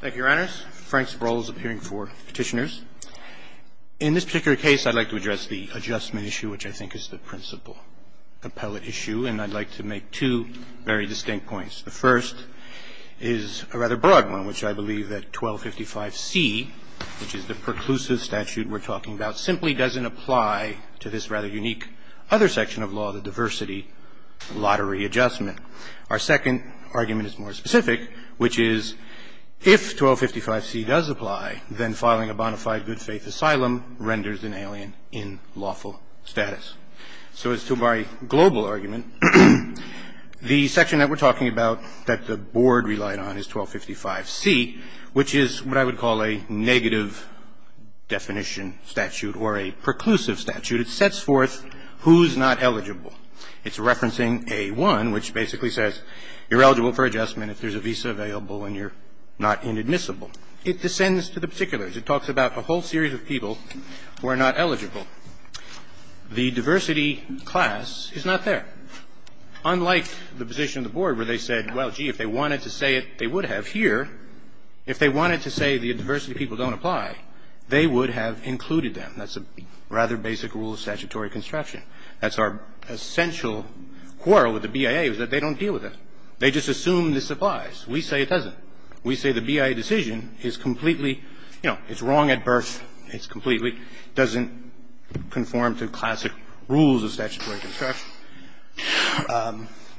Thank you, Your Honors. Frank Sproul is appearing for petitioners. In this particular case, I'd like to address the adjustment issue, which I think is the principal appellate issue, and I'd like to make two very distinct points. The first is a rather broad one, which I believe that 1255C, which is the preclusive statute we're talking about, simply doesn't apply to this rather unique other section of law, the diversity lottery adjustment. Our second argument is more specific, which is if 1255C does apply, then filing a bona fide good faith asylum renders an alien in lawful status. So as to my global argument, the section that we're talking about that the board relied on is 1255C, which is what I would call a negative definition statute or a preclusive statute. It sets forth who's not eligible. It's referencing A-1, which basically says you're eligible for adjustment if there's a visa available and you're not inadmissible. It descends to the particulars. It talks about a whole series of people who are not eligible. The diversity class is not there. Unlike the position of the board where they said, well, gee, if they wanted to say it, they would have here. If they wanted to say the diversity people don't apply, they would have included them. That's a rather basic rule of statutory construction. That's our essential quarrel with the BIA, is that they don't deal with it. They just assume this applies. We say it doesn't. We say the BIA decision is completely, you know, it's wrong at birth. It's completely doesn't conform to classic rules of statutory construction.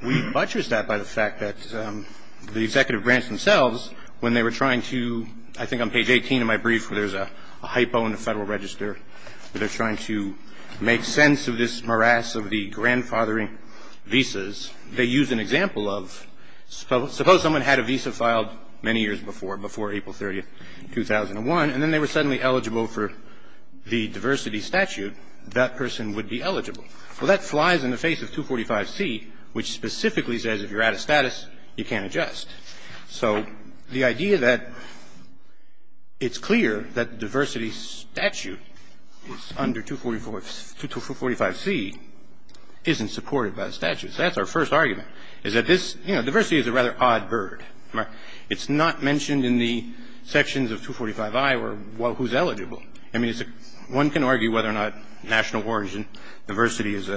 We buttress that by the fact that the executive branch themselves, when they were trying to – I think on page 18 of my brief where there's a hypo in the Federal Register where they're trying to make sense of this morass of the grandfathering visas, they use an example of suppose someone had a visa filed many years before, before April 30, 2001, and then they were suddenly eligible for the diversity statute, that person would be eligible. Well, that flies in the face of 245C, which specifically says if you're out of status, you can't adjust. So the idea that it's clear that diversity statute is under 245C isn't supported by the statute. That's our first argument, is that this – you know, diversity is a rather odd bird. It's not mentioned in the sections of 245I who's eligible. I mean, one can argue whether or not national origin, diversity is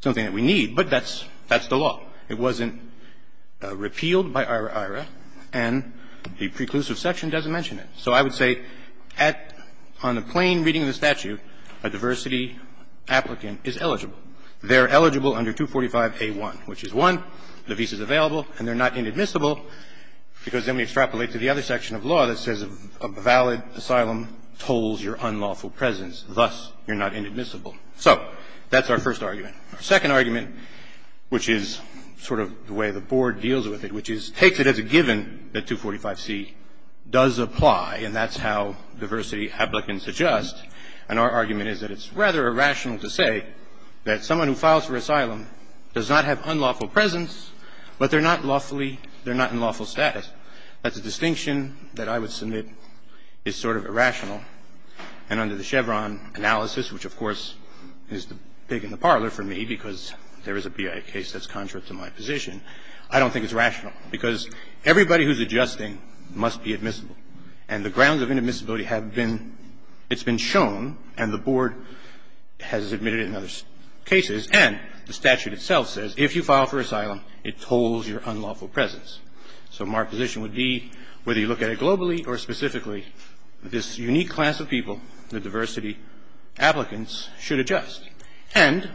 something that we need, but that's the law. It wasn't repealed by IRA-IRA, and the preclusive section doesn't mention it. So I would say on the plain reading of the statute, a diversity applicant is eligible. They're eligible under 245A1, which is one, the visa's available, and they're not inadmissible, because then we extrapolate to the other section of law that says a valid asylum tolls your unlawful presence. Thus, you're not inadmissible. So that's our first argument. Our second argument, which is sort of the way the Board deals with it, which is – takes it as a given that 245C does apply, and that's how diversity applicants adjust. And our argument is that it's rather irrational to say that someone who files for asylum does not have unlawful presence, but they're not lawfully – they're not in lawful status. That's a distinction that I would submit is sort of irrational. And under the Chevron analysis, which, of course, is big in the parlor for me, because there is a BIA case that's contrary to my position, I don't think it's rational, because everybody who's adjusting must be admissible. And the grounds of inadmissibility have been – it's been shown, and the Board has admitted it in other cases. And the statute itself says if you file for asylum, it tolls your unlawful presence. So my position would be, whether you look at it globally or specifically, this unique class of people, the diversity applicants, should adjust. And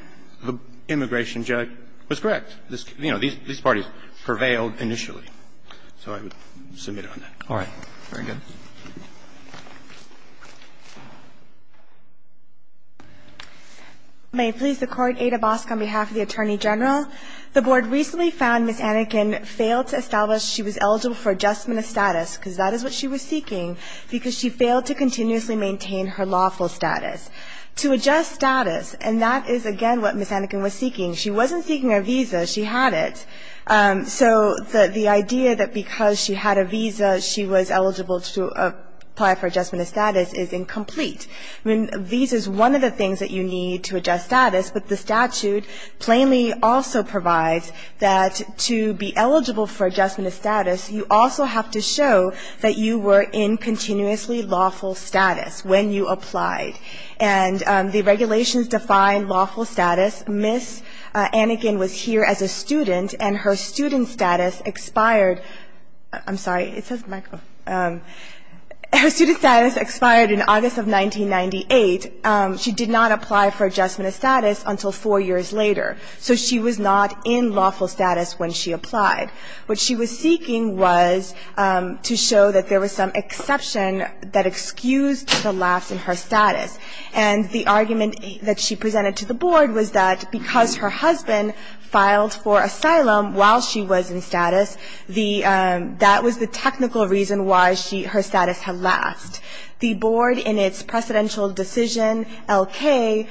the immigration judge was correct. You know, these parties prevailed initially. So I would submit it on that. All right. Very good. May it please the Court. Ada Bosk on behalf of the Attorney General. The Board recently found Ms. Anakin failed to establish she was eligible for adjustment of status, because that is what she was seeking, because she failed to continuously maintain her lawful status. To adjust status – and that is, again, what Ms. Anakin was seeking. She wasn't seeking a visa. She had it. So the idea that because she had a visa, she was eligible to apply for adjustment of status is incomplete. Visa is one of the things that you need to adjust status. But the statute plainly also provides that to be eligible for adjustment of status, you also have to show that you were in continuously lawful status when you applied. And the regulations define lawful status. Ms. Anakin was here as a student, and her student status expired – I'm sorry, it says Michael – her student status expired in August of 1998. She did not apply for adjustment of status until four years later. So she was not in lawful status when she applied. What she was seeking was to show that there was some exception that excused the lapse in her status. And the argument that she presented to the board was that because her husband filed for asylum while she was in status, the – that was the technical reason why she – her status had last. The board, in its precedential decision, L.K.,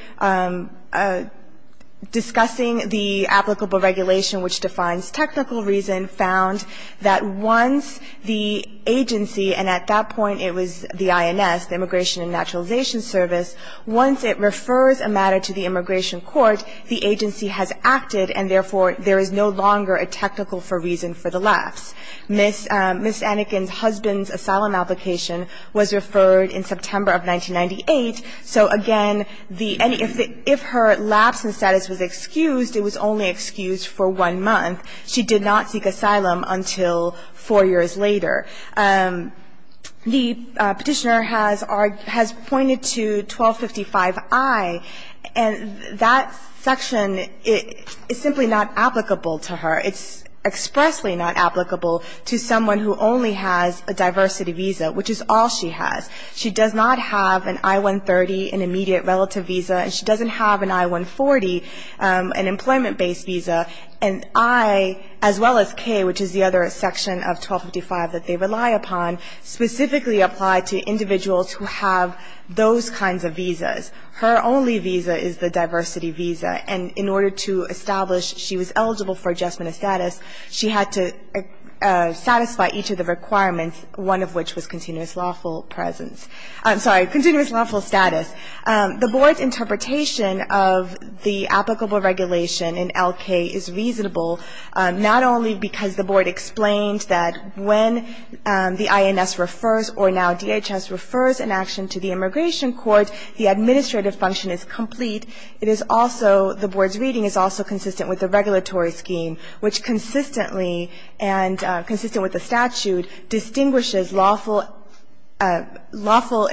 discussing the applicable regulation which defines technical reason, found that once the agency – and at that point it was the INS, the Immigration and Naturalization Service – once it refers a matter to the immigration court, the agency has acted, and therefore there is no longer a technical reason for the lapse. Ms. Anakin's husband's asylum application was referred in September of 1998. So again, the – and if her lapse in status was excused, it was only excused for one month. She did not seek asylum until four years later. The Petitioner has pointed to 1255i, and that section is simply not applicable to her. It's expressly not applicable to someone who only has a diversity visa, which is all she has. She does not have an I-130, an immediate relative visa, and she doesn't have an I-140, an employment-based visa. And I, as well as K, which is the other section of 1255 that they rely upon, specifically apply to individuals who have those kinds of visas. Her only visa is the diversity visa. And in order to establish she was eligible for adjustment of status, she had to satisfy each of the requirements, one of which was continuous lawful presence. I'm sorry, continuous lawful status. The Board's interpretation of the applicable regulation in L.K. is reasonable, not only because the Board explained that when the INS refers or now DHS refers an action to the immigration court, the administrative function is complete. It is also – the Board's reading is also consistent with the regulatory scheme, which consistently and – consistent with the statute distinguishes lawful – lawful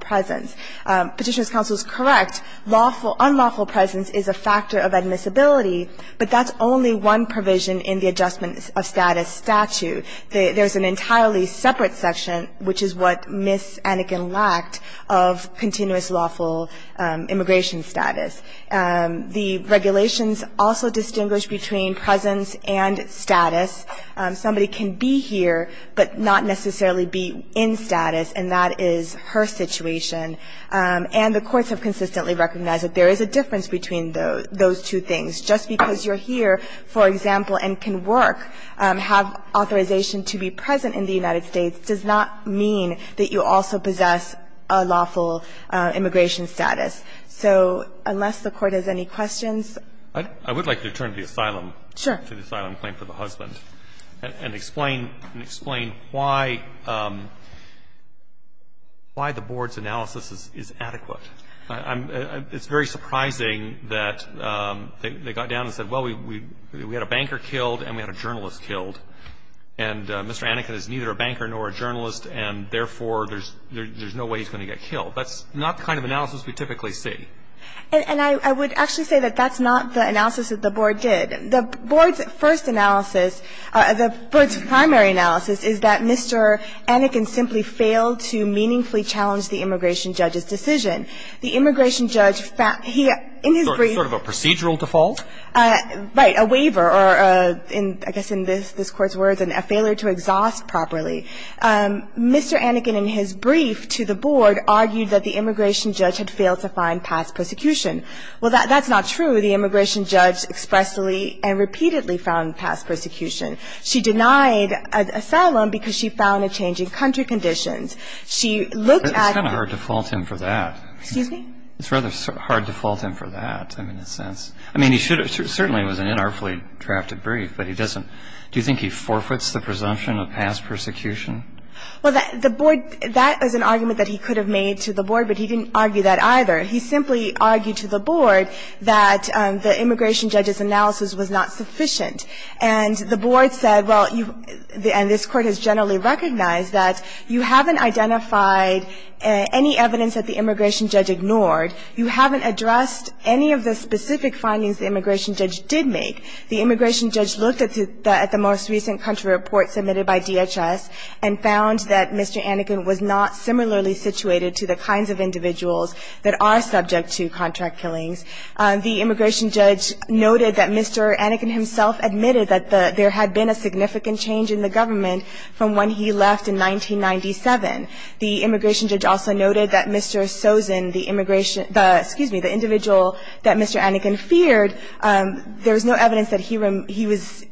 presence. Petitioner's counsel is correct. Lawful – unlawful presence is a factor of admissibility, but that's only one provision in the adjustment of status statute. There's an entirely separate section, which is what Ms. Anakin lacked, of continuous lawful immigration status. The regulations also distinguish between presence and status. Somebody can be here, but not necessarily be in status, and that is her situation. And the courts have consistently recognized that there is a difference between those two things. Just because you're here, for example, and can work, have authorization to be present in the United States, does not mean that you also possess a lawful immigration status. So unless the Court has any questions. I would like to turn to the asylum. Sure. To the asylum claim for the husband, and explain – and explain why the Board's analysis is adequate. It's very surprising that they got down and said, well, we had a banker killed and we had a journalist killed, and Mr. Anakin is neither a banker nor a journalist, and therefore there's no way he's going to get killed. That's not the kind of analysis we typically see. And I would actually say that that's not the analysis that the Board did. The Board's first analysis – the Board's primary analysis is that Mr. Anakin simply failed to meaningfully challenge the immigration judge's decision. The immigration judge – he – in his brief – Sort of a procedural default? Right. A waiver, or I guess in this Court's words, a failure to exhaust properly. Mr. Anakin, in his brief to the Board, argued that the immigration judge had failed to find past persecution. Well, that's not true. The immigration judge expressly and repeatedly found past persecution. She denied asylum because she found a change in country conditions. She looked at – It's kind of hard to fault him for that. Excuse me? It's rather hard to fault him for that, I mean, in a sense. I mean, he should have – certainly it was an inartfully drafted brief, but he doesn't – do you think he forfeits the presumption of past persecution? Well, the Board – that is an argument that he could have made to the Board, but he didn't argue that either. He simply argued to the Board that the immigration judge's analysis was not sufficient. And the Board said, well, you – and this Court has generally recognized that you haven't identified any evidence that the immigration judge ignored. You haven't addressed any of the specific findings the immigration judge did make. The immigration judge looked at the most recent country report submitted by DHS and found that Mr. Anakin was not similarly situated to the kinds of individuals that are subject to contract killings. The immigration judge noted that Mr. Anakin himself admitted that there had been a significant change in the government from when he left in 1997. The immigration judge also noted that Mr. Sozin, the immigration – excuse me, the individual that Mr. Anakin feared, there was no evidence that he was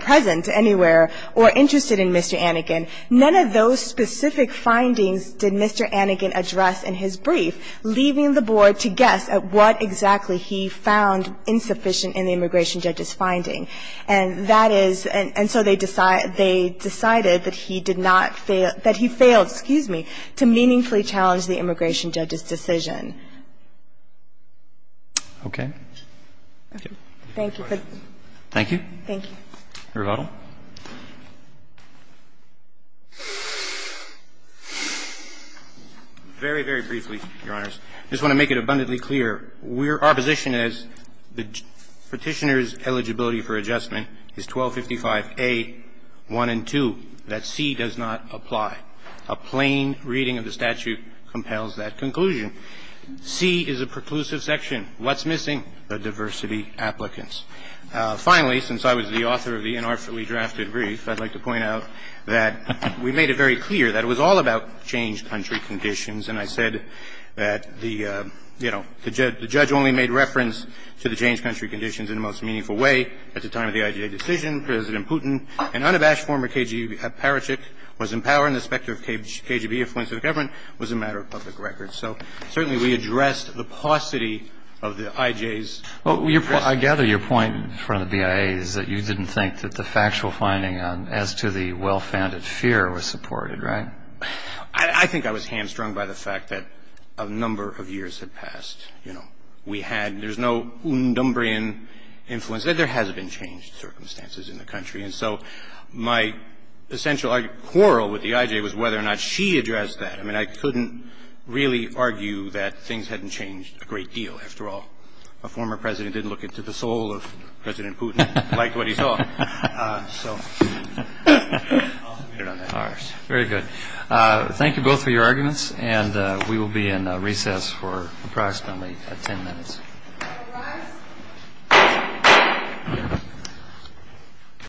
present anywhere or interested in Mr. Anakin. None of those specific findings did Mr. Anakin address in his brief, leaving the Board to guess at what exactly he found insufficient in the immigration judge's finding. And that is – and so they decided that he did not fail – that he failed, excuse me, to meaningfully challenge the immigration judge's decision. Roberts. Okay. Thank you. Thank you. Thank you. Rovattle. Very, very briefly, Your Honors. I just want to make it abundantly clear. We're – our position is that Petitioner's eligibility for adjustment is 1255a, 1 and 2. That C does not apply. A plain reading of the statute compels that conclusion. C is a preclusive section. What's missing? The diversity applicant. Finally, since I was the author of the inartfully drafted brief, I'd like to point out that we made it very clear that it was all about change country conditions. And I said that the, you know, the judge only made reference to the change country conditions in the most meaningful way at the time of the IJ decision. President Putin and unabashed former KGB parachute was in power and the specter of KGB influence of government was a matter of public record. So certainly we addressed the paucity of the IJ's. Well, I gather your point in front of the BIA is that you didn't think that the factual finding as to the well-founded fear was supported, right? I think I was hamstrung by the fact that a number of years had passed. You know, we had – there's no undumbrian influence. There has been changed circumstances in the country. And so my essential quarrel with the IJ was whether or not she addressed that. I mean, I couldn't really argue that things hadn't changed a great deal. After all, a former president didn't look into the soul of President Putin, liked what he saw. So I'll submit it on that. All right. Very good. Thank you both for your arguments. And we will be in recess for approximately 10 minutes.